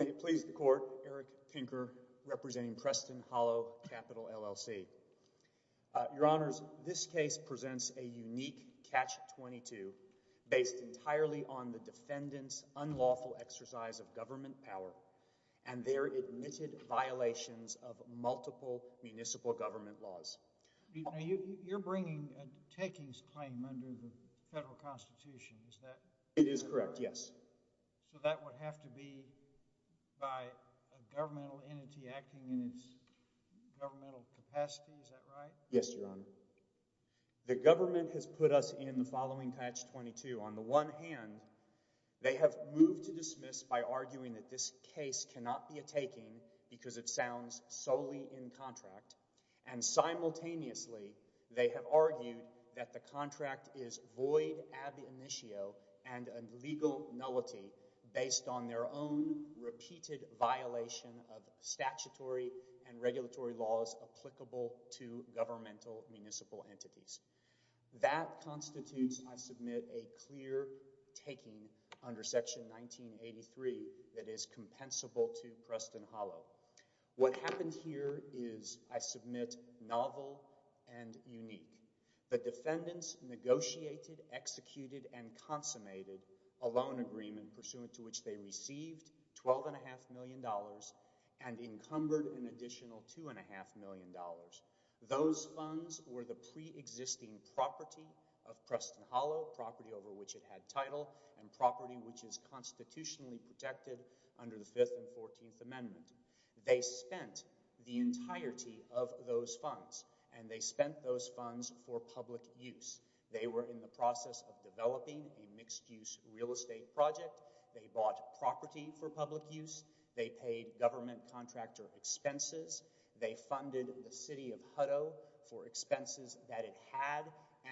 May it please the Court, Eric Pinker representing Preston Hollow, LLC. Your Honors, this case presents a unique Catch-22 based entirely on the defendant's unlawful exercise of government power and their admitted violations of multiple municipal government laws. Now, you're bringing a takings claim under the federal constitution, is that correct? It is correct, yes. So that would have to be by a governmental entity acting in its governmental capacity, is that right? Yes, Your Honor. The government has put us in the following Catch-22. On the one hand, they have moved to dismiss by arguing that this case cannot be a taking because it sounds solely in contract, and simultaneously, they have argued that the contract is void ab initio and a legal nullity based on their own repeated violation of statutory and regulatory laws applicable to governmental municipal entities. That constitutes, I submit, a clear taking under Section 1983 that is compensable to Preston Hollow. What happened here is, I submit, novel and unique. The defendants negotiated, executed, and consummated a loan agreement pursuant to which they received $12.5 million and encumbered an additional $2.5 million. Those funds were the pre-existing property of Preston Hollow, property over which it They spent the entirety of those funds, and they spent those funds for public use. They were in the process of developing a mixed-use real estate project. They bought property for public use. They paid government contractor expenses. They funded the city of Hutto for expenses that it had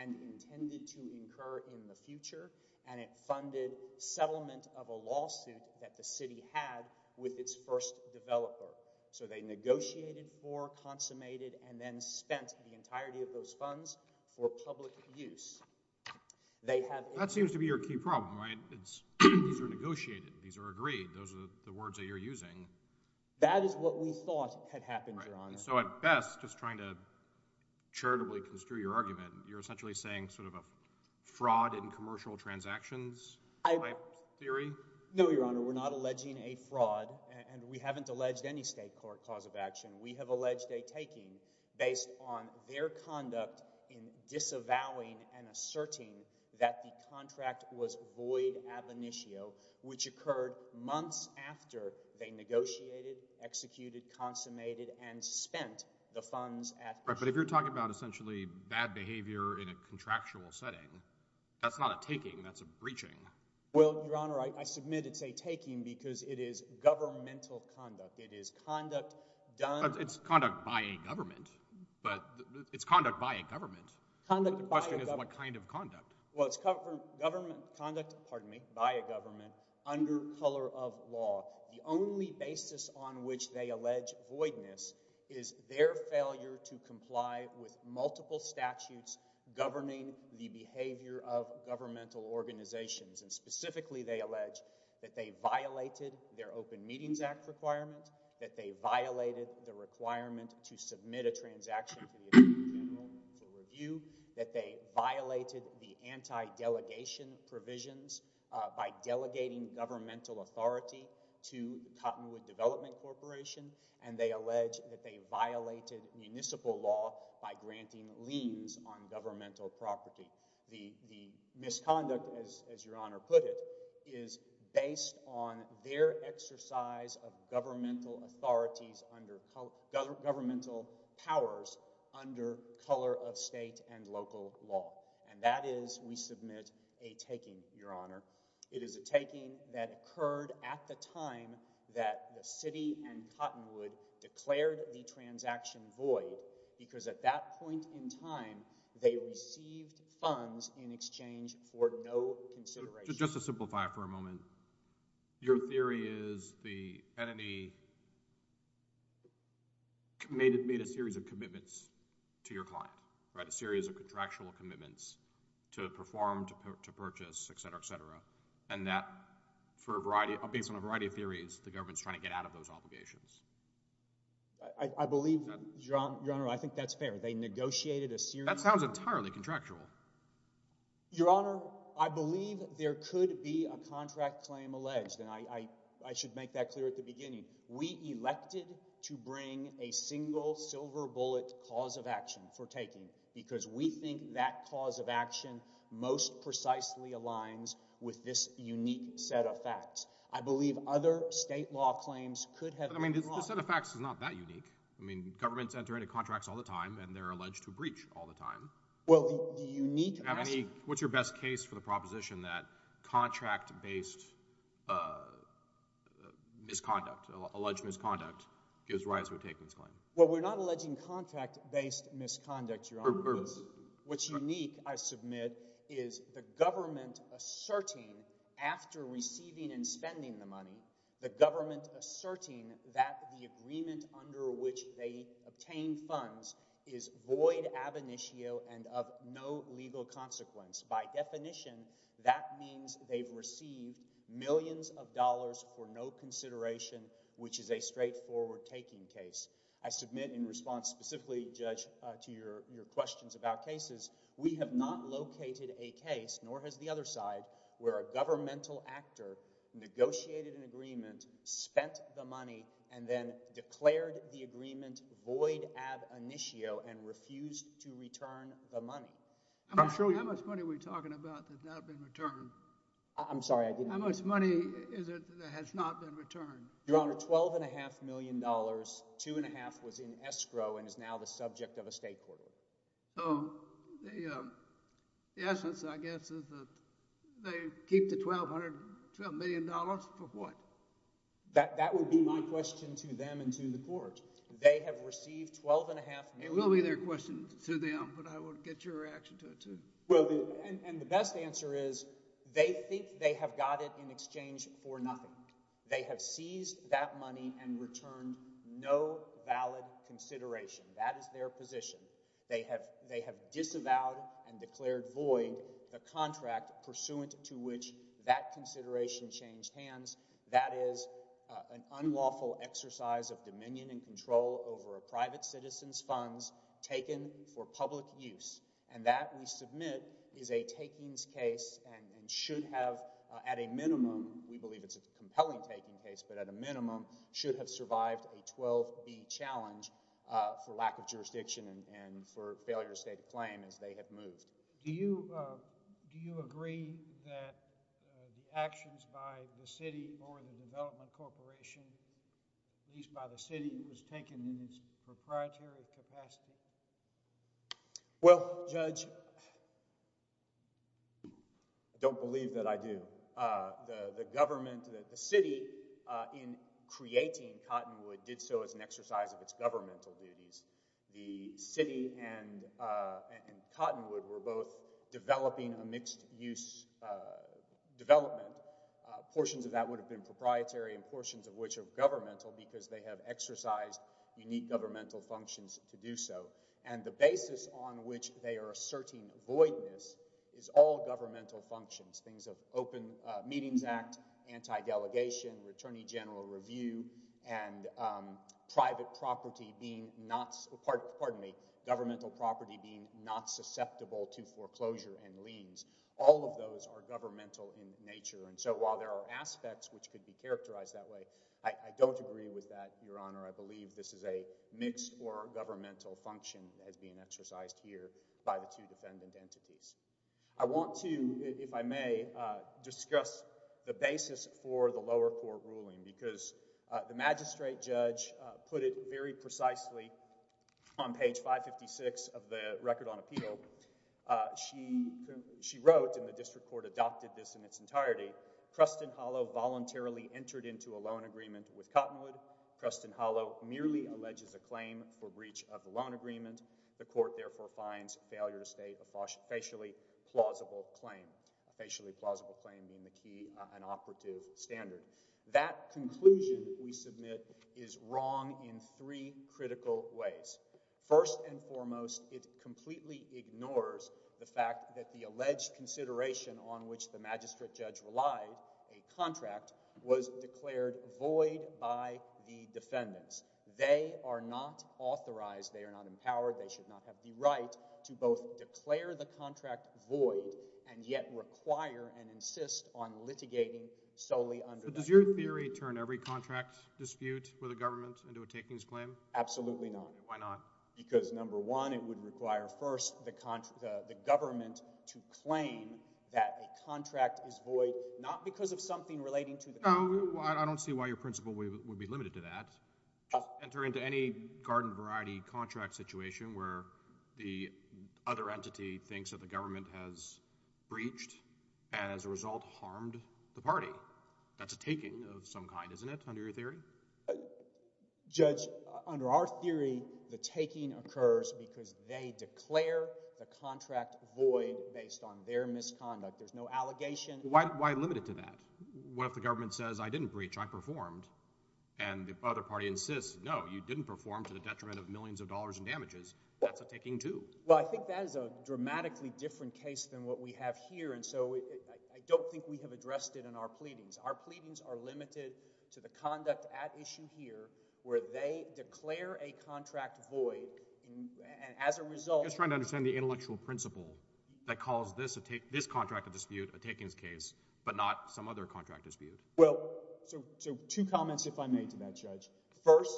and intended to incur in the future, and it funded settlement of a lawsuit that the city had with its first developer. So they negotiated for, consummated, and then spent the entirety of those funds for public use. They have That seems to be your key problem, right? These are negotiated. These are agreed. Those are the words that you're using. That is what we thought had happened, Your Honor. So at best, just trying to charitably construe your argument, you're essentially saying sort of a fraud in commercial transactions type theory? No, Your Honor. We're not alleging a fraud, and we haven't alleged any state court cause of action. We have alleged a taking based on their conduct in disavowing and asserting that the contract was void ab initio, which occurred months after they negotiated, executed, consummated, and spent the funds at the But if you're talking about essentially bad behavior in a contractual setting, that's not a taking. That's a breaching. Well, Your Honor, I submit it's a taking because it is governmental conduct. It is conduct done It's conduct by a government, but it's conduct by a government. Conduct by a government. The question is what kind of conduct. Well, it's government conduct, pardon me, by a government under color of law. The only basis on which they allege voidness is their failure to comply with multiple statutes governing the behavior of governmental organizations, and specifically they allege that they violated their Open Meetings Act requirement, that they violated the requirement to submit a transaction to the Attorney General for review, that they violated the anti-delegation provisions by delegating governmental authority to Cottonwood Development Corporation, and they allege that they violated municipal law by granting liens on governmental property. The misconduct, as Your Honor put it, is based on their exercise of governmental authorities under governmental powers under color of state and local law, and that is, we submit, a taking, Your Honor, it is a taking that occurred at the time that the city and Cottonwood declared the transaction void, because at that point in time, they received funds in exchange for no consideration. Just to simplify it for a moment, your theory is the entity made a series of commitments to your client, a series of contractual commitments to perform, to purchase, et cetera, et cetera, and that for a variety, based on a variety of theories, the government's trying to get out of those obligations. I believe, Your Honor, I think that's fair. They negotiated a series of— That sounds entirely contractual. Your Honor, I believe there could be a contract claim alleged, and I should make that clear at the beginning. We elected to bring a single silver bullet cause of action for taking, because we think that cause of action most precisely aligns with this unique set of facts. I believe other state law claims could have been brought— But I mean, this set of facts is not that unique. I mean, governments enter into contracts all the time, and they're alleged to breach all the time. Well, the unique— Do you have any—what's your best case for the proposition that contract-based misconduct or alleged misconduct gives rise to a taking claim? Well, we're not alleging contract-based misconduct, Your Honor. What's unique, I submit, is the government asserting after receiving and spending the money, the government asserting that the agreement under which they obtain funds is void ab initio and of no legal consequence. By definition, that means they've received millions of dollars for no consideration, which is a straightforward taking case. I submit in response specifically, Judge, to your questions about cases, we have not located a case, nor has the other side, where a governmental actor negotiated an agreement, spent the money, and then declared the agreement void ab initio and refused to return the money. I'm sure— How much money are we talking about that has not been returned? I'm sorry, I didn't— How much money is it that has not been returned? Your Honor, $12.5 million, $2.5 was in escrow and is now the subject of a state court order. So, the essence, I guess, is that they keep the $12 million for what? That would be my question to them and to the court. They have received $12.5 million— It will be their question to them, but I will get your reaction to it, too. Well, and the best answer is, they think they have got it in exchange for nothing. They have seized that money and returned no valid consideration. That is their position. They have disavowed and declared void the contract pursuant to which that consideration changed hands. That is an unlawful exercise of dominion and control over a private citizen's funds taken for public use. And that, we submit, is a takings case and should have, at a minimum—we believe it's a compelling taking case, but at a minimum—should have survived a 12B challenge for lack of jurisdiction and for failure to state a claim as they have moved. Do you agree that the actions by the city or the development corporation, at least by the city, was taken in its proprietary capacity? Well, Judge, I don't believe that I do. The government—the city, in creating Cottonwood, did so as an exercise of its governmental duties. The city and Cottonwood were both developing a mixed-use development. Portions of that would have been proprietary and portions of which are governmental because they have exercised unique governmental functions to do so. And the basis on which they are asserting voidness is all governmental functions. Things of Open Meetings Act, anti-delegation, attorney general review, and private property being not—pardon me—governmental property being not susceptible to foreclosure and liens. All of those are governmental in nature. And so while there are aspects which could be characterized that way, I don't agree with that, Your Honor. I believe this is a mix for governmental function as being exercised here by the two defendant entities. I want to, if I may, discuss the basis for the lower court ruling because the magistrate judge put it very precisely on page 556 of the Record on Appeal. She wrote, and the district court adopted this in its entirety, Preston Hollow voluntarily entered into a loan agreement with Cottonwood. Preston Hollow merely alleges a claim for breach of the loan agreement. The court, therefore, finds failure to state a facially plausible claim, a facially plausible claim being the key and operative standard. That conclusion we submit is wrong in three critical ways. First and foremost, it completely ignores the fact that the alleged consideration on which the magistrate judge relied, a contract, was declared void by the defendants. They are not authorized, they are not empowered, they should not have the right to both declare the contract void and yet require and insist on litigating solely under that agreement. Does your theory turn every contract dispute with a government into a takings claim? Absolutely not. Why not? Because, number one, it would require, first, the government to claim that a contract is void, not because of something relating to the contract. I don't see why your principle would be limited to that. It doesn't enter into any garden variety contract situation where the other entity thinks that the government has breached and, as a result, harmed the party. That's a taking of some kind, isn't it, under your theory? Judge, under our theory, the taking occurs because they declare the contract void based on their misconduct. There's no allegation. Why limit it to that? What if the government says, I didn't breach, I performed, and the other party insists, no, you didn't perform to the detriment of millions of dollars in damages? That's a taking, too. Well, I think that is a dramatically different case than what we have here, and so I don't think we have addressed it in our pleadings. Our pleadings are limited to the conduct at issue here, where they declare a contract void, and as a result— I'm just trying to understand the intellectual principle that calls this contract of dispute a takings case, but not some other contract dispute. Well, so two comments, if I may, to that, Judge. First,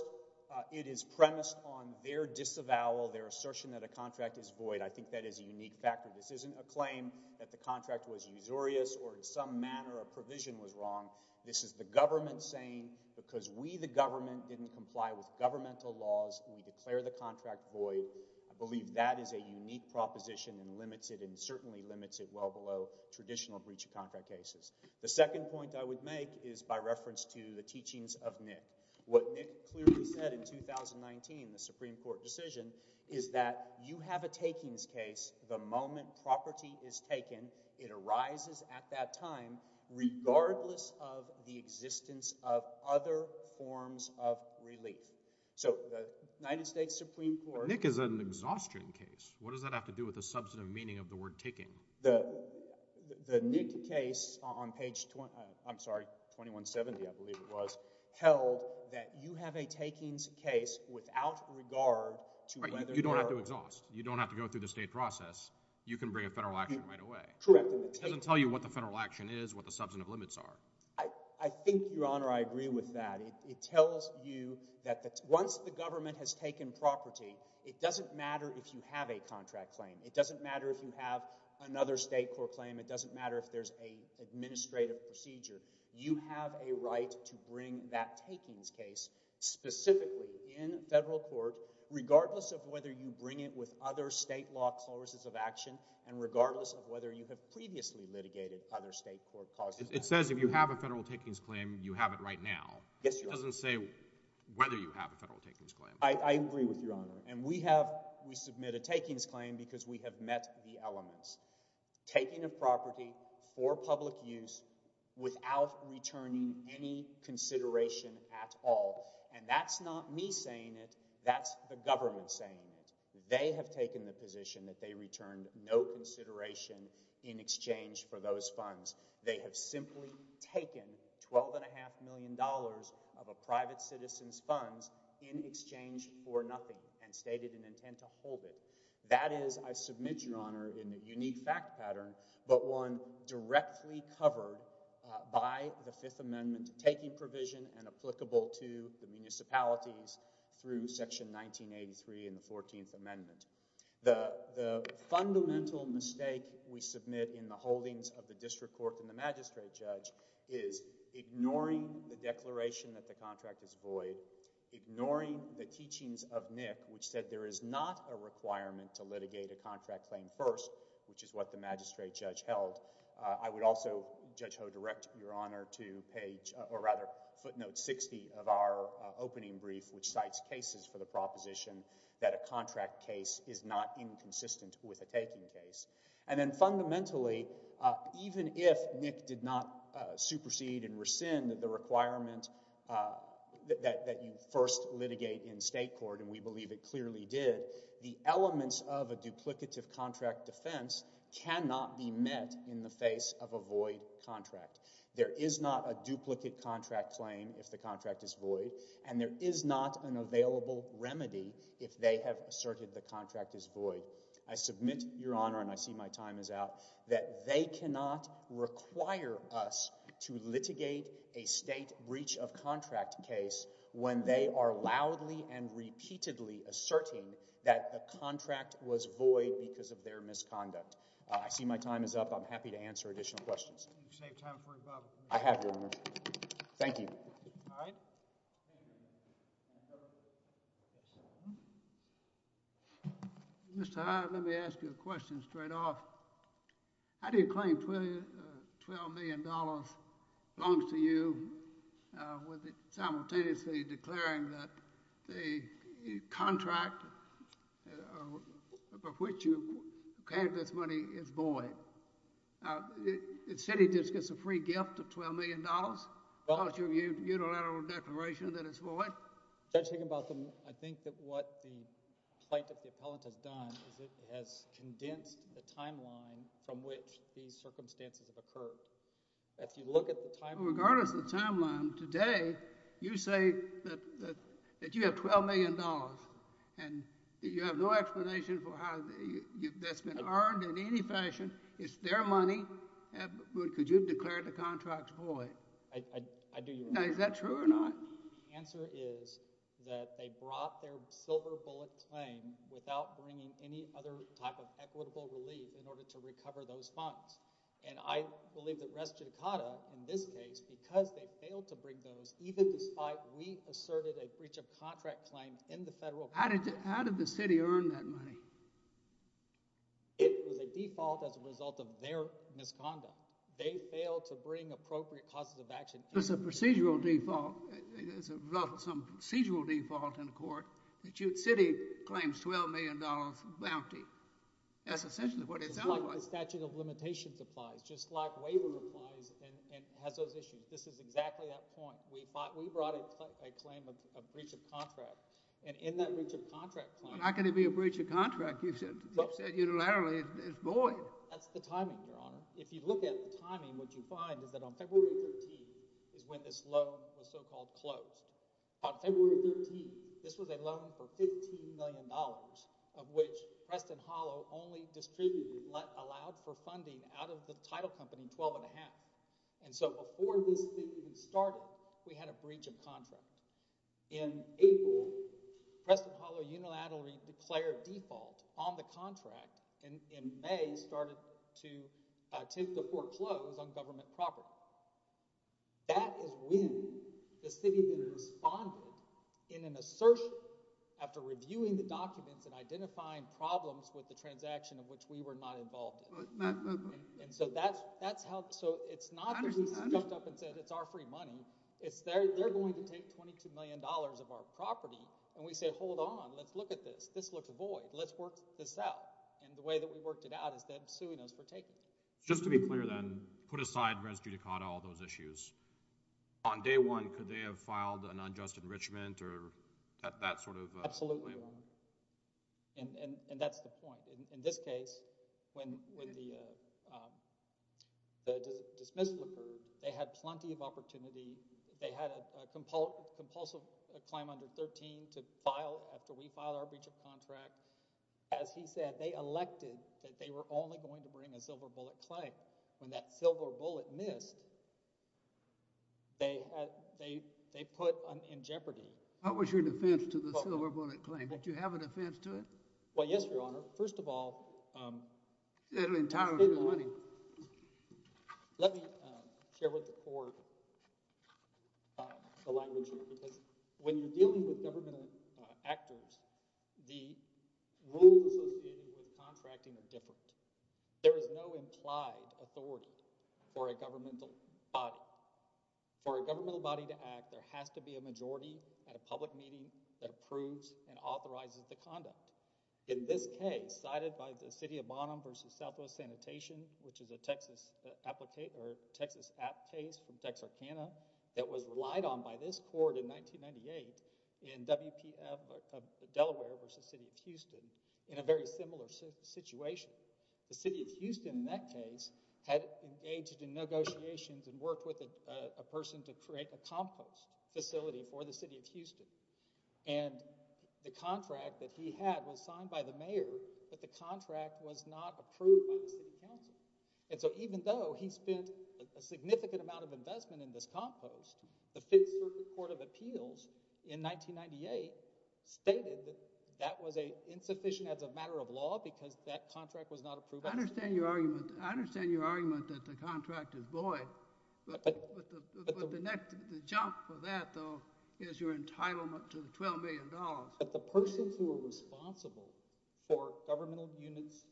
it is premised on their disavowal, their assertion that a contract is void. I think that is a unique factor. This isn't a claim that the contract was usurious or in some manner a provision was wrong. This is the government saying, because we, the government, didn't comply with governmental laws, we declare the contract void. I believe that is a unique proposition and limits it, and certainly limits it well below traditional breach of contract cases. The second point I would make is by reference to the teachings of Nick. What Nick clearly said in 2019, the Supreme Court decision, is that you have a takings case the moment property is taken, it arises at that time regardless of the existence of other forms of relief. So the United States Supreme Court— Nick is an exhaustion case. What does that have to do with the substantive meaning of the word taking? The Nick case on page, I'm sorry, 2170, I believe it was, held that you have a takings case without regard to whether you are— You don't have to exhaust. You don't have to go through the state process. You can bring a federal action right away. Correct. It doesn't tell you what the federal action is, what the substantive limits are. I think, Your Honor, I agree with that. It tells you that once the government has taken property, it doesn't matter if you have a contract claim. It doesn't matter if you have another state court claim. It doesn't matter if there's an administrative procedure. You have a right to bring that takings case specifically in federal court regardless of whether you bring it with other state law clauses of action and regardless of whether you have previously litigated other state court clauses. It says if you have a federal takings claim, you have it right now. Yes, Your Honor. It doesn't say whether you have a federal takings claim. I agree with you, Your Honor. And we have—we submit a takings claim because we have met the elements. Taking a property for public use without returning any consideration at all, and that's not me saying it, that's the government saying it. They have taken the position that they returned no consideration in exchange for those funds. They have simply taken $12.5 million of a private citizen's funds in exchange for nothing and stated an intent to hold it. That is, I submit, Your Honor, in a unique fact pattern, but one directly covered by the Fifth Amendment taking provision and applicable to the municipalities through Section 1983 and the 14th Amendment. The fundamental mistake we submit in the holdings of the district court and the magistrate judge is ignoring the declaration that the contract is void, ignoring the teachings of Nick, which said there is not a requirement to litigate a contract claim first, which is what the magistrate judge held. I would also, Judge Ho, direct Your Honor to page—or rather footnote 60 of our opening brief, which cites cases for the proposition that a contract case is not inconsistent with a taking case. And then fundamentally, even if Nick did not supersede and rescind the requirement that you first litigate in state court, and we believe it clearly did, the elements of a duplicative contract defense cannot be met in the face of a void contract. There is not a duplicate contract claim if the contract is void, and there is not an available remedy if they have asserted the contract is void. I submit, Your Honor, and I see my time is out, that they cannot require us to litigate a state breach of contract case when they are loudly and repeatedly asserting that the contract was void because of their misconduct. I see my time is up. I'm happy to answer additional questions. Can you save time for rebuttal, please? I have, Your Honor. Thank you. All right. Mr. Hyde, let me ask you a question straight off. How do you claim $12 million belongs to you, simultaneously declaring that the contract of which you gave this money is void? Now, the city just gets a free gift of $12 million because of your unilateral declaration that it's void? Well, Judge Higginbotham, I think that what the plight of the appellant has done is it has condensed the timeline from which these circumstances have occurred. If you look at the timeline... Well, regardless of the timeline, today, you say that you have $12 million, and you have no explanation for how that's been earned in any fashion. It's their money. Could you have declared the contract void? I do, Your Honor. Now, is that true or not? The answer is that they brought their silver bullet claim without bringing any other type of equitable relief in order to recover those funds. And I believe that Res Judicata, in this case, because they failed to bring those, even despite we asserted a breach of contract claim in the federal... to cover the breach of contract. How did the city earn that money? It was a default as a result of their misconduct. They failed to bring appropriate causes of action. There's a procedural default as a result of some procedural default in the court. City claims a $12 million bounty. That's essentially what it sounds like. The statute of limitations applies, just like waiver applies and has those issues. This is exactly that point. We brought a claim of breach of contract. And in that breach of contract claim— It's not going to be a breach of contract. You said unilaterally it's void. That's the timing, Your Honor. If you look at the timing, what you find is that on February 13th is when this loan was so-called closed. On February 13th, this was a loan for $15 million, of which Preston Hollow only distributed— allowed for funding out of the title company 12 1⁄2. And so before this thing even started, we had a breach of contract. In April, Preston Hollow unilaterally declared default on the contract. And in May, it started to take the foreclose on government property. That is when the city then responded in an assertion after reviewing the documents and identifying problems with the transaction of which we were not involved in. And so that's how— So it's not that we stepped up and said, it's our free money. It's they're going to take $22 million of our property. And we say, hold on, let's look at this. This looks void. Let's work this out. And the way that we worked it out is they're suing us for taking it. Just to be clear then, put aside res judicata, all those issues. On day one, could they have filed an unjust enrichment or that sort of— Absolutely, Your Honor. And that's the point. In this case, when the dismissal occurred, they had plenty of opportunity. They had a compulsive claim under 13 to file after we filed our breach of contract. As he said, they elected that they were only going to bring a silver bullet claim. When that silver bullet missed, they put in jeopardy. What was your defense to the silver bullet claim? Did you have a defense to it? Well, yes, Your Honor. First of all— It entitled to the money. Let me share with the court the language here, because when you're dealing with government actors, the rules associated with contracting are different. There is no implied authority for a governmental body. For a governmental body to act, there has to be a majority at a public meeting that approves and authorizes the conduct. In this case, cited by the City of Bonham v. Southwest Sanitation, which is a Texas app case from Texarkana that was relied on by this court in 1998 in Delaware v. City of Houston in a very similar situation. The City of Houston in that case had engaged in negotiations and worked with a person to create a compost facility for the City of Houston. But the contract was not approved by the City Council. And so even though he spent a significant amount of investment in this compost, the Fifth Circuit Court of Appeals in 1998 stated that that was insufficient as a matter of law because that contract was not approved. I understand your argument that the contract is void. But the jump for that, though, is your entitlement to the $12 million. But the persons who are responsible for governmental units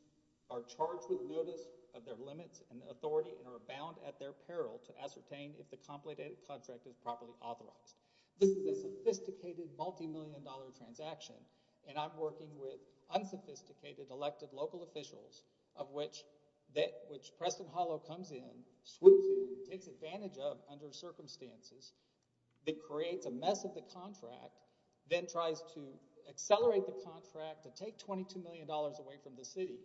are charged with liability of their limits and authority and are bound at their peril to ascertain if the complicated contract is properly authorized. This is a sophisticated, multi-million dollar transaction. And I'm working with unsophisticated elected local officials of which Preston Hollow comes in, swoops in, takes advantage of under circumstances, that creates a mess of the contract, then tries to accelerate the contract to take $22 million away from the City.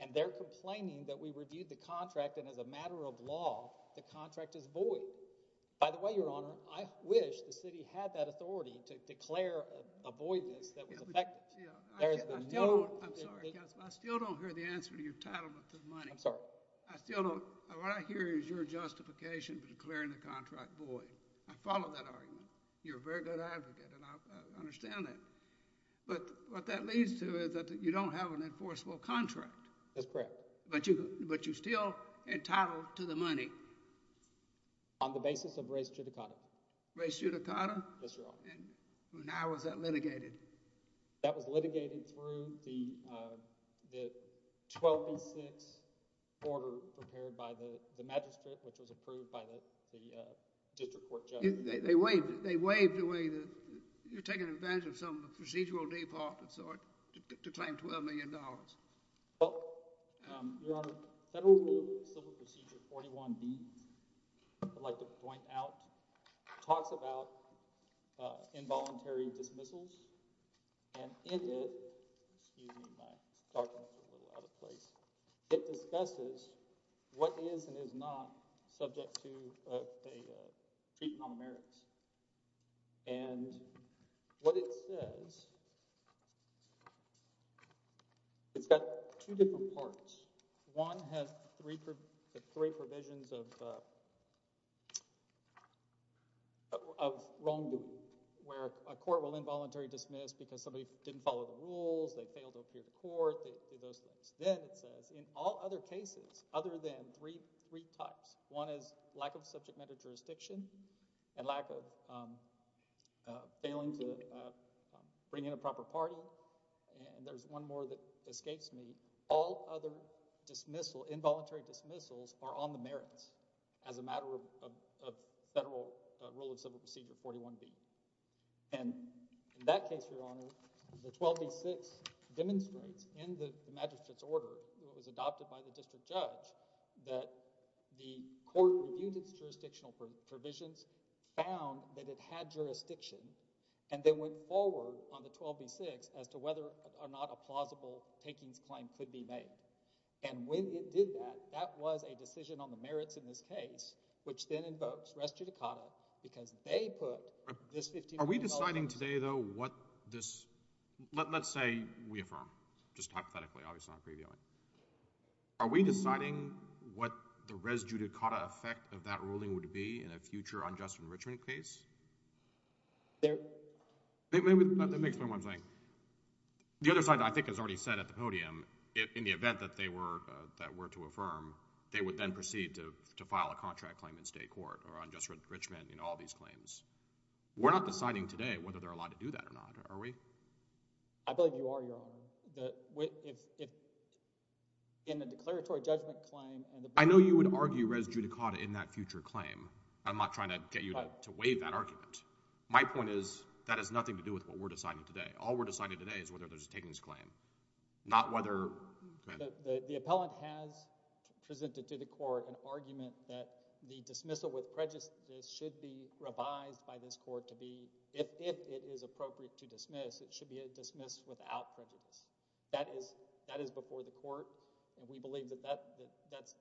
And they're complaining that we reviewed the contract and as a matter of law, the contract is void. By the way, Your Honor, I wish the City had that authority to declare a voidness that was effective. There is no... I'm sorry, Counselor. I still don't hear the answer to your entitlement to the money. I'm sorry. What I hear is your justification for declaring the contract void. I follow that argument. You're a very good advocate and I understand that. But what that leads to is that you don't have an enforceable contract. That's correct. But you're still entitled to the money. On the basis of res judicata. Res judicata? Yes, Your Honor. And how was that litigated? That was litigated through the 1286 order prepared by the magistrate, which was approved by the district court judge. They waived away the... You're taking advantage of some procedural default of sorts to claim $12 million. Well, Your Honor, Federal Rule Civil Procedure 41B, I'd like to point out, talks about involuntary dismissals and in it, excuse me, my document's a little out of place, it discusses what is and is not subject to the treat non-merits. And what it says, it's got two different parts. One has three provisions of wrongdoing, where a court will involuntarily dismiss because somebody didn't follow the rules, they failed to appear to court, those things. Then it says, in all other cases, other than three types, one is lack of subject matter jurisdiction and lack of failing to bring in a proper party, and there's one more that escapes me, all other involuntary dismissals are on the merits as a matter of Federal Rule of Civil Procedure 41B. And in that case, Your Honor, the 12B6 demonstrates in the magistrate's order that was adopted by the district judge that the court reviewed its jurisdictional provisions, found that it had jurisdiction, and then went forward on the 12B6 as to whether or not a plausible takings claim could be made. And when it did that, that was a decision on the merits in this case, which then invokes res judicata because they put this $15 million... Let's say we affirm, just hypothetically, obviously not previewing. Are we deciding what the res judicata effect of that ruling would be in a future unjust enrichment case? Let me explain what I'm saying. The other side, I think, has already said at the podium, in the event that they were to affirm, they would then proceed to file a contract claim in state court or unjust enrichment in all these claims. We're not deciding today whether they're allowed to do that or not, are we? I believe you are, Your Honor. In the declaratory judgment claim... I know you would argue res judicata in that future claim. I'm not trying to get you to waive that argument. My point is that has nothing to do with what we're deciding today. All we're deciding today is whether there's a takings claim, not whether... The appellant has presented to the court an argument that the dismissal with prejudice should be revised by this court if it is appropriate to dismiss. It should be dismissed without prejudice. That is before the court, and we believe that that's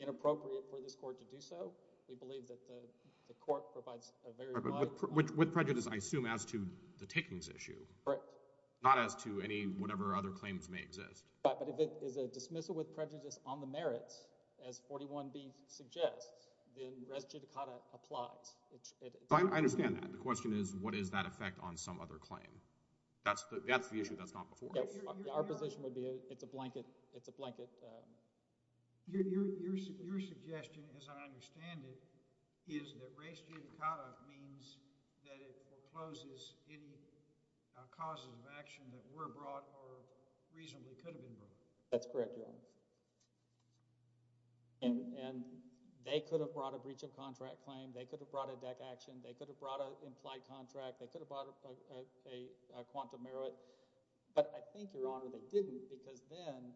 inappropriate for this court to do so. We believe that the court provides a very wide... With prejudice, I assume, as to the takings issue. Correct. Not as to any, whatever other claims may exist. Right, but if it is a dismissal with prejudice on the merits, as 41B suggests, then res judicata applies. I understand that. The question is, what is that effect on some other claim? That's the issue that's gone before us. Our position would be it's a blanket... Your suggestion, as I understand it, is that res judicata means that it forecloses in causes of action that were brought or reasonably could have been brought. That's correct, Your Honor. And they could have brought a breach of contract claim. They could have brought a deck action. They could have brought an implied contract. They could have brought a quantum merit. But I think, Your Honor, they didn't because then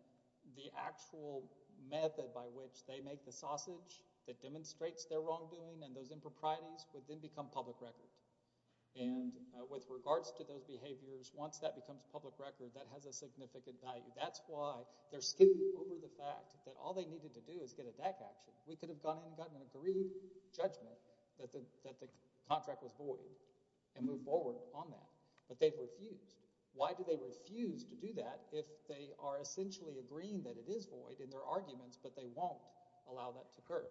the actual method by which they make the sausage that demonstrates their wrongdoing and those improprieties would then become public record. And with regards to those behaviors, once that becomes public record, that has a significant value. That's why they're skimming over the fact that all they needed to do is get a deck action. We could have gone in and gotten an agreed judgment that the contract was void and moved forward on that. But they've refused. Why do they refuse to do that if they are essentially agreeing that it is void in their arguments, but they won't allow that to occur?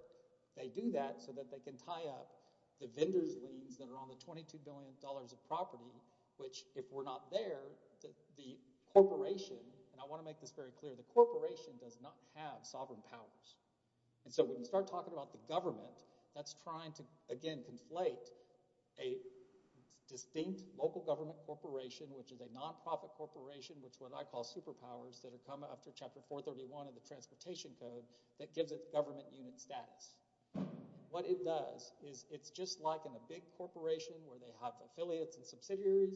They do that so that they can tie up the vendor's liens that are on the $22 billion of property, which, if we're not there, the corporation... And I want to make this very clear. The corporation does not have sovereign powers. And so when we start talking about the government, that's trying to, again, conflate a distinct local government corporation, which is a nonprofit corporation, which is what I call superpowers that have come up through Chapter 431 of the Transportation Code that gives it government unit status. What it does is it's just like in a big corporation where they have affiliates and subsidiaries.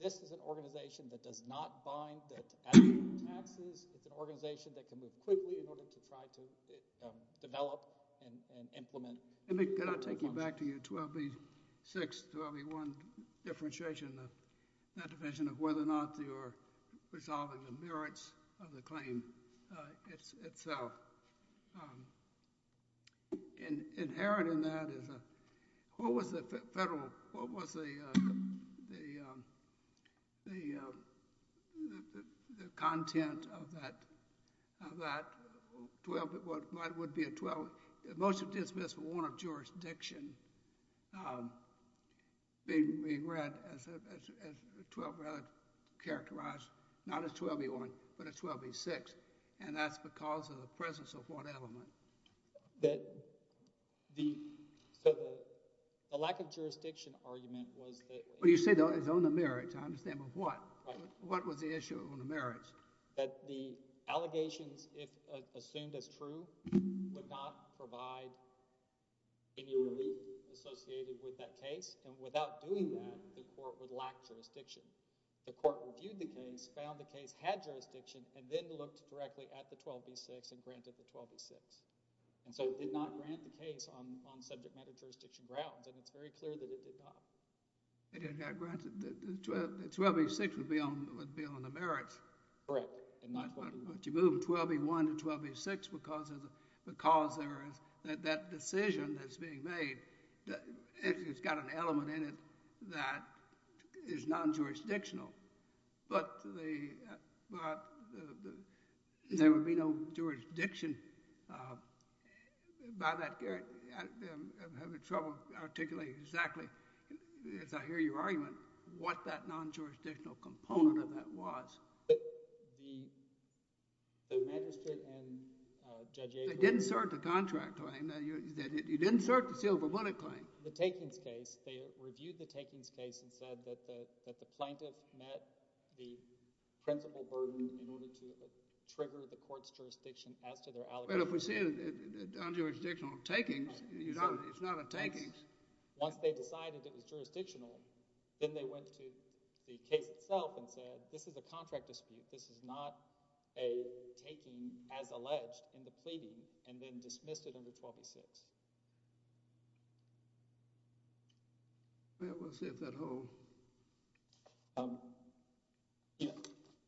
This is an organization that does not bind that to adequate taxes. It's an organization that can move quickly in order to try to develop and implement... Can I take you back to your 12B6, 12B1 differentiation, that division of whether or not you're resolving the merits of the claim itself? Inheriting that is a... What was the federal... What was the content of that? 12, what might would be a 12... Most of the dismissal were one of jurisdiction being read as 12 rather characterized, not as 12B1, but as 12B6. And that's because of the presence of what element? The lack of jurisdiction argument was that... Well, you say it's on the merits. I understand, but what? What was the issue on the merits? That the allegations, if assumed as true, would not provide any relief associated with that case. And without doing that, the court would lack jurisdiction. The court reviewed the case, found the case had jurisdiction, and then looked directly at the 12B6 and granted the 12B6. And so it did not grant the case on subject matter jurisdiction grounds. And it's very clear that it did not. It didn't have grants. The 12B6 would be on the merits. Correct, and not 12B1. But you move from 12B1 to 12B6 because there is... That decision that's being made, it's got an element in it that is non-jurisdictional. But there would be no jurisdiction by that... I'm having trouble articulating exactly, as I hear your argument, what that non-jurisdictional component of that was. The magistrate and Judge Avery... They didn't assert the contract claim. You didn't assert the silver bullet claim. The takings case, they reviewed the takings case and said that the plaintiff met the principal burden in order to trigger the court's jurisdiction as to their allegations. Well, if we're seeing non-jurisdictional takings, it's not a takings. Once they decided it was jurisdictional, then they went to the case itself and said, this is a contract dispute. This is not a taking as alleged in the pleading, and then dismissed it under 12B6. Well, we'll see if that holds.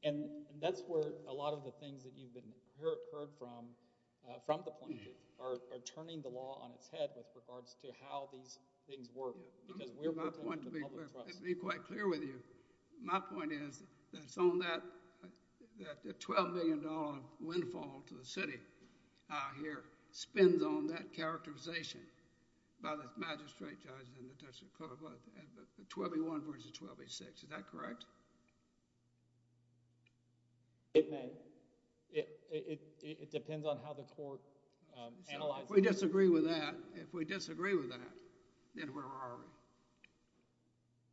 And that's where a lot of the things that you've heard from, from the plaintiff, are turning the law on its head with regards to how these things work, because we're working with the public trust. Let me be quite clear with you. My point is that it's on that $12 million windfall to the city out here, spends on that characterization by the magistrate, judge, and the district court, 12A1 versus 12A6, is that correct? It may. It depends on how the court analyzes it. If we disagree with that, if we disagree with that, then where are we?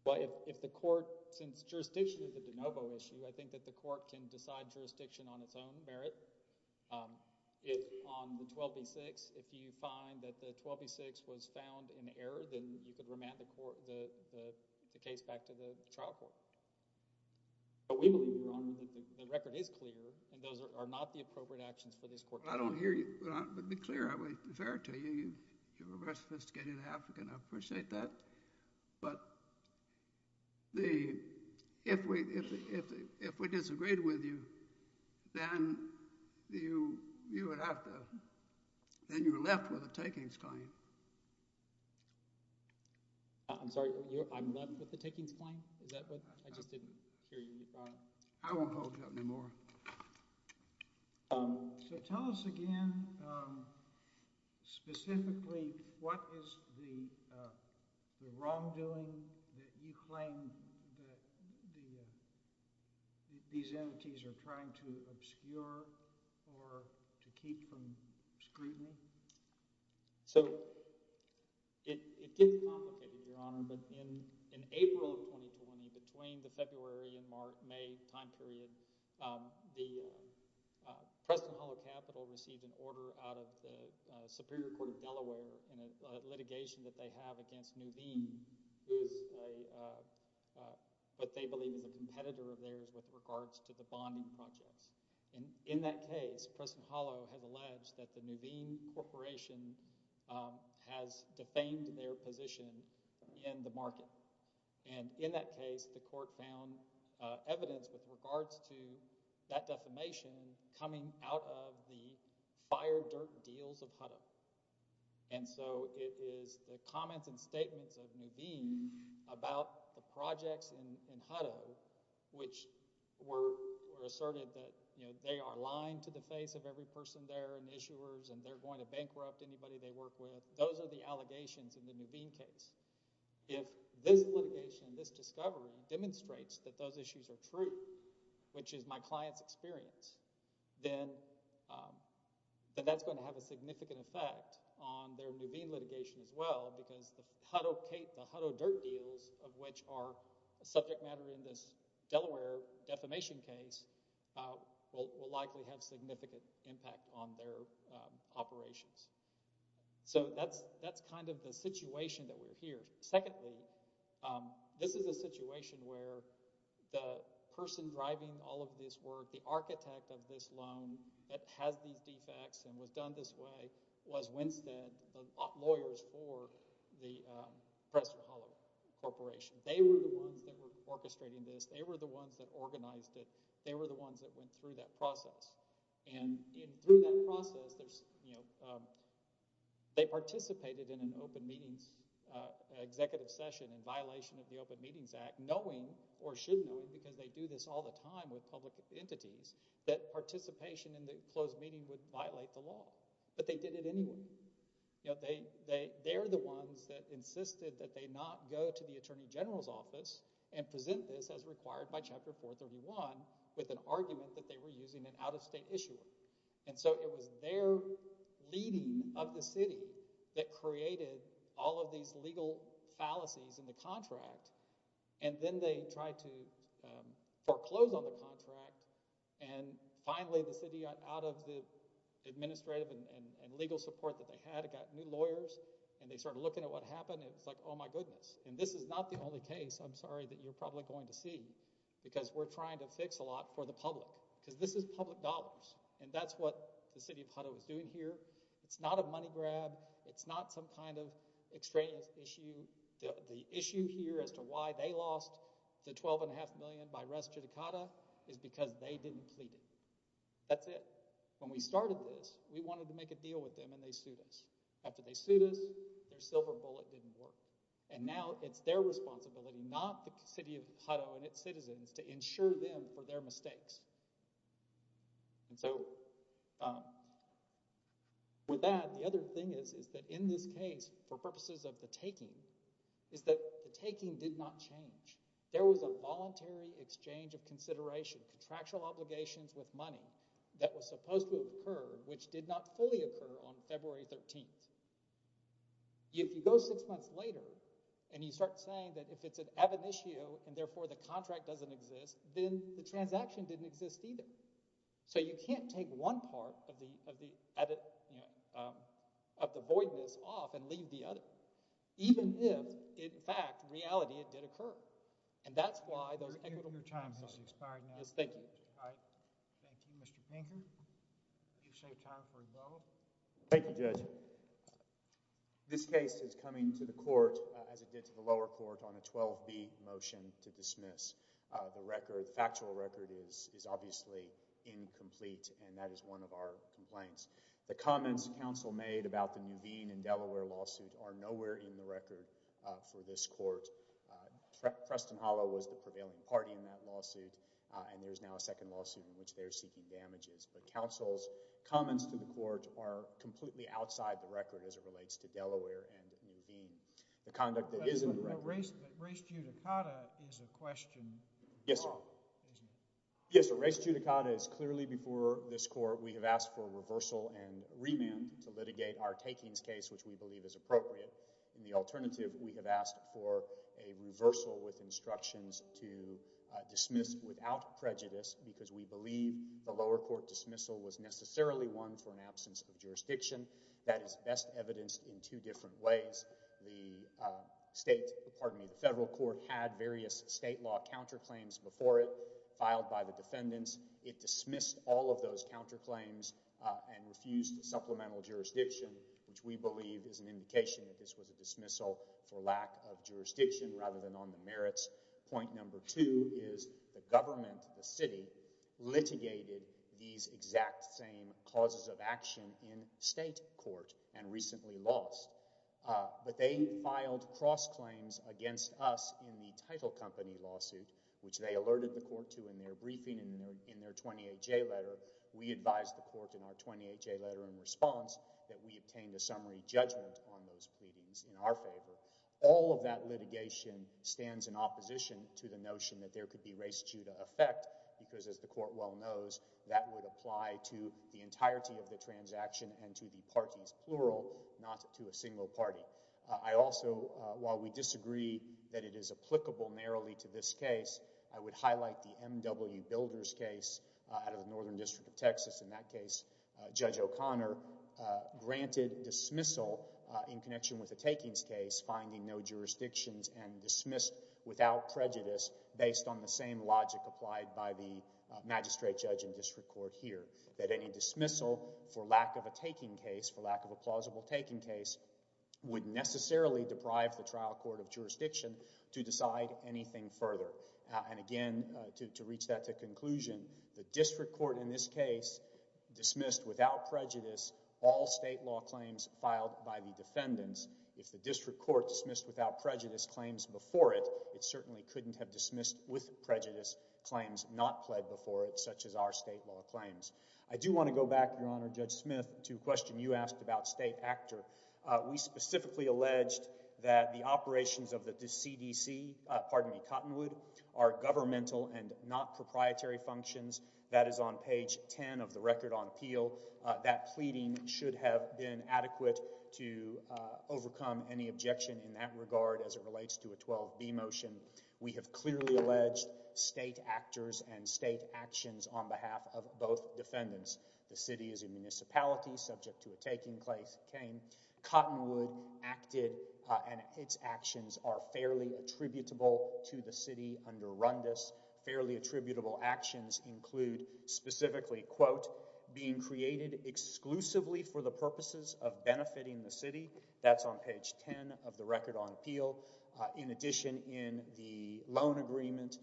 Well, if the court, since jurisdiction is a de novo issue, I think that the court can decide jurisdiction on its own merit. If on the 12B6, if you find that the 12B6 was found in error, then you could remand the case back to the trial court. But we believe, Your Honor, that the record is clear, and those are not the appropriate actions for this court to take. I don't hear you, but to be clear, I would defer to you. You're a very sophisticated African. I appreciate that. But if we disagreed with you, then you would have to, then you're left with a takings claim. I'm sorry, I'm left with a takings claim? Is that what, I just didn't hear you. I won't hold you up anymore. Okay. So tell us again, specifically, what is the wrongdoing that you claim that these entities are trying to obscure or to keep from scrutiny? So, it is complicated, Your Honor, but in April of 2020, between the February and May time period, the Preston Hollow Capital received an order out of the Superior Court of Delaware and a litigation that they have against Nuveen, who is what they believe is a competitor of theirs with regards to the bonding projects. And in that case, Preston Hollow has alleged that the Nuveen Corporation has defamed their position in the market. And in that case, the court found evidence with regards to that defamation coming out of the fire dirt deals of Hutto. And so it is the comments and statements of Nuveen about the projects in Hutto, which were asserted that they are lying to the face of every person there and issuers, and they're going to bankrupt anybody they work with. Those are the allegations in the Nuveen case. If this litigation, this discovery, demonstrates that those issues are true, which is my client's experience, then that's going to have a significant effect on their Nuveen litigation as well, because the Hutto dirt deals, of which are a subject matter in this Delaware defamation case, will likely have significant impact on their operations. So that's kind of the situation that we're here. Secondly, this is a situation where the person driving all of this work, the architect of this loan that has these defects and was done this way was Winstead, the lawyers for the Preston Hollow Corporation. They were the ones that were orchestrating this. They were the ones that organized it. They were the ones that went through that process. And through that process, they participated in an open meetings executive session in violation of the Open Meetings Act, knowing, or should know, because they do this all the time with public entities, that participation in the closed meeting would violate the law. But they did it anyway. They're the ones that insisted that they not go to the Attorney General's office and present this as required by Chapter 431 with an argument that they were using an out-of-state issuer. And so it was their leading of the city that created all of these legal fallacies in the contract. And then they tried to foreclose on the contract. And finally, the city got out of the administrative and legal support that they had. It got new lawyers, and they started looking at what happened. It's like, oh my goodness. And this is not the only case, I'm sorry, that you're probably going to see, because we're trying to fix a lot for the public, because this is public dollars. And that's what the city of Hutto is doing here. It's not a money grab. It's not some kind of extraneous issue. The issue here as to why they lost the 12.5 million by res judicata is because they didn't plead it. That's it. When we started this, we wanted to make a deal with them, and they sued us. After they sued us, their silver bullet didn't work. And now it's their responsibility, and not the city of Hutto and its citizens, to insure them for their mistakes. And so, with that, the other thing is, is that in this case, for purposes of the taking, is that the taking did not change. There was a voluntary exchange of consideration, contractual obligations with money that was supposed to have occurred, which did not fully occur on February 13th. If you go six months later, and you start saying that if it's an ebb and issue, and therefore the contract doesn't exist, then the transaction didn't exist either. So you can't take one part of the void in this off and leave the other, even if, in fact, in reality, it did occur. And that's why those equitable- Your time has expired now. Yes, thank you. All right. Thank you, Mr. Pinkham. You've saved time for rebuttal. Thank you, Judge. Thank you. This case is coming to the court, as it did to the lower court, on a 12B motion to dismiss. The record, factual record, is obviously incomplete, and that is one of our complaints. The comments counsel made about the Nuveen and Delaware lawsuit are nowhere in the record for this court. Preston Hollow was the prevailing party in that lawsuit, in which they are seeking damages. But counsel's comments to the court are completely outside the record as it relates to Delaware and Nuveen. The conduct that is in the record- Race judicata is a question. Yes, sir. Yes, race judicata is clearly before this court. We have asked for reversal and remand to litigate our takings case, which we believe is appropriate. In the alternative, we have asked for a reversal with instructions to dismiss without prejudice because we believe the lower court dismissal was necessarily one for an absence of jurisdiction. That is best evidenced in two different ways. The state, pardon me, the federal court had various state law counterclaims before it, filed by the defendants. It dismissed all of those counterclaims and refused supplemental jurisdiction, which we believe is an indication that this was a dismissal for lack of jurisdiction rather than on the merits. Point number two is the government, the city, litigated these exact same causes of action in state court and recently lost. But they filed cross-claims against us in the title company lawsuit, which they alerted the court to in their briefing in their 28-J letter. We advised the court in our 28-J letter in response that we obtained a summary judgment on those pleadings in our favor. All of that litigation stands in opposition to the notion that there could be race-juda effect because, as the court well knows, that would apply to the entirety of the transaction and to the parties, plural, not to a single party. I also, while we disagree that it is applicable narrowly to this case, I would highlight the M.W. Builders case out of the Northern District of Texas. In that case, Judge O'Connor granted dismissal in connection with the takings case, finding no jurisdictions and dismissed without prejudice based on the same logic applied by the magistrate judge in district court here, that any dismissal for lack of a taking case, for lack of a plausible taking case, would necessarily deprive the trial court of jurisdiction to decide anything further. And again, to reach that to conclusion, the district court in this case dismissed without prejudice all state law claims filed by the defendants. If the district court dismissed without prejudice claims before it, it certainly couldn't have dismissed with prejudice claims not pled before it, such as our state law claims. I do want to go back, Your Honor, Judge Smith, to a question you asked about state actor. We specifically alleged that the operations of the CDC, pardon me, Cottonwood, are governmental and not proprietary functions. That is on page 10 of the record on appeal. That pleading should have been adequate to overcome any objection in that regard as it relates to a 12B motion. We have clearly alleged state actors and state actions on behalf of both defendants. The city is a municipality subject to a taking claim. Cottonwood acted and its actions are fairly attributable to the city under Rundis. Fairly attributable actions include specifically, quote, being created exclusively for the purposes of benefiting the city. That's on page 10 of the record on appeal. In addition, in the loan agreement,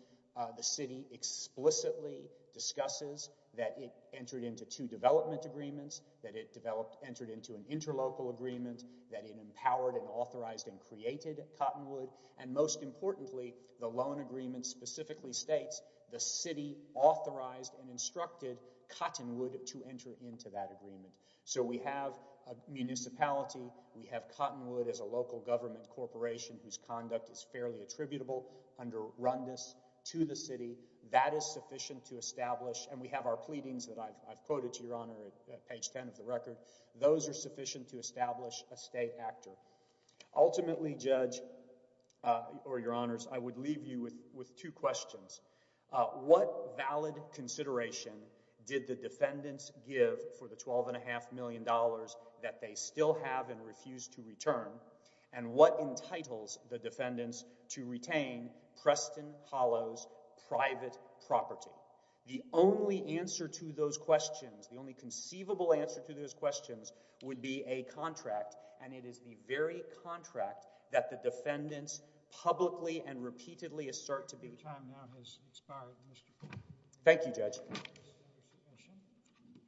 the city explicitly discusses that it entered into two development agreements, that it entered into an interlocal agreement, that it empowered and authorized and created Cottonwood. And most importantly, the loan agreement specifically states the city authorized and instructed Cottonwood to enter into that agreement. So we have a municipality, we have Cottonwood as a local government corporation whose conduct is fairly attributable under Rundis to the city. That is sufficient to establish, and we have our pleadings that I've quoted to your honor at page 10 of the record. Those are sufficient to establish a state actor. Ultimately, Judge, or your honors, I would leave you with two questions. What valid consideration did the defendants give for the 12 and a half million dollars that they still have and refuse to return? And what entitles the defendants to retain Preston Hollows' private property? The only answer to those questions, the only conceivable answer to those questions would be a contract, and it is the very contract that the defendants publicly and repeatedly assert to be. Your time now has expired, Mr. Poole. Thank you, Judge. Thank you.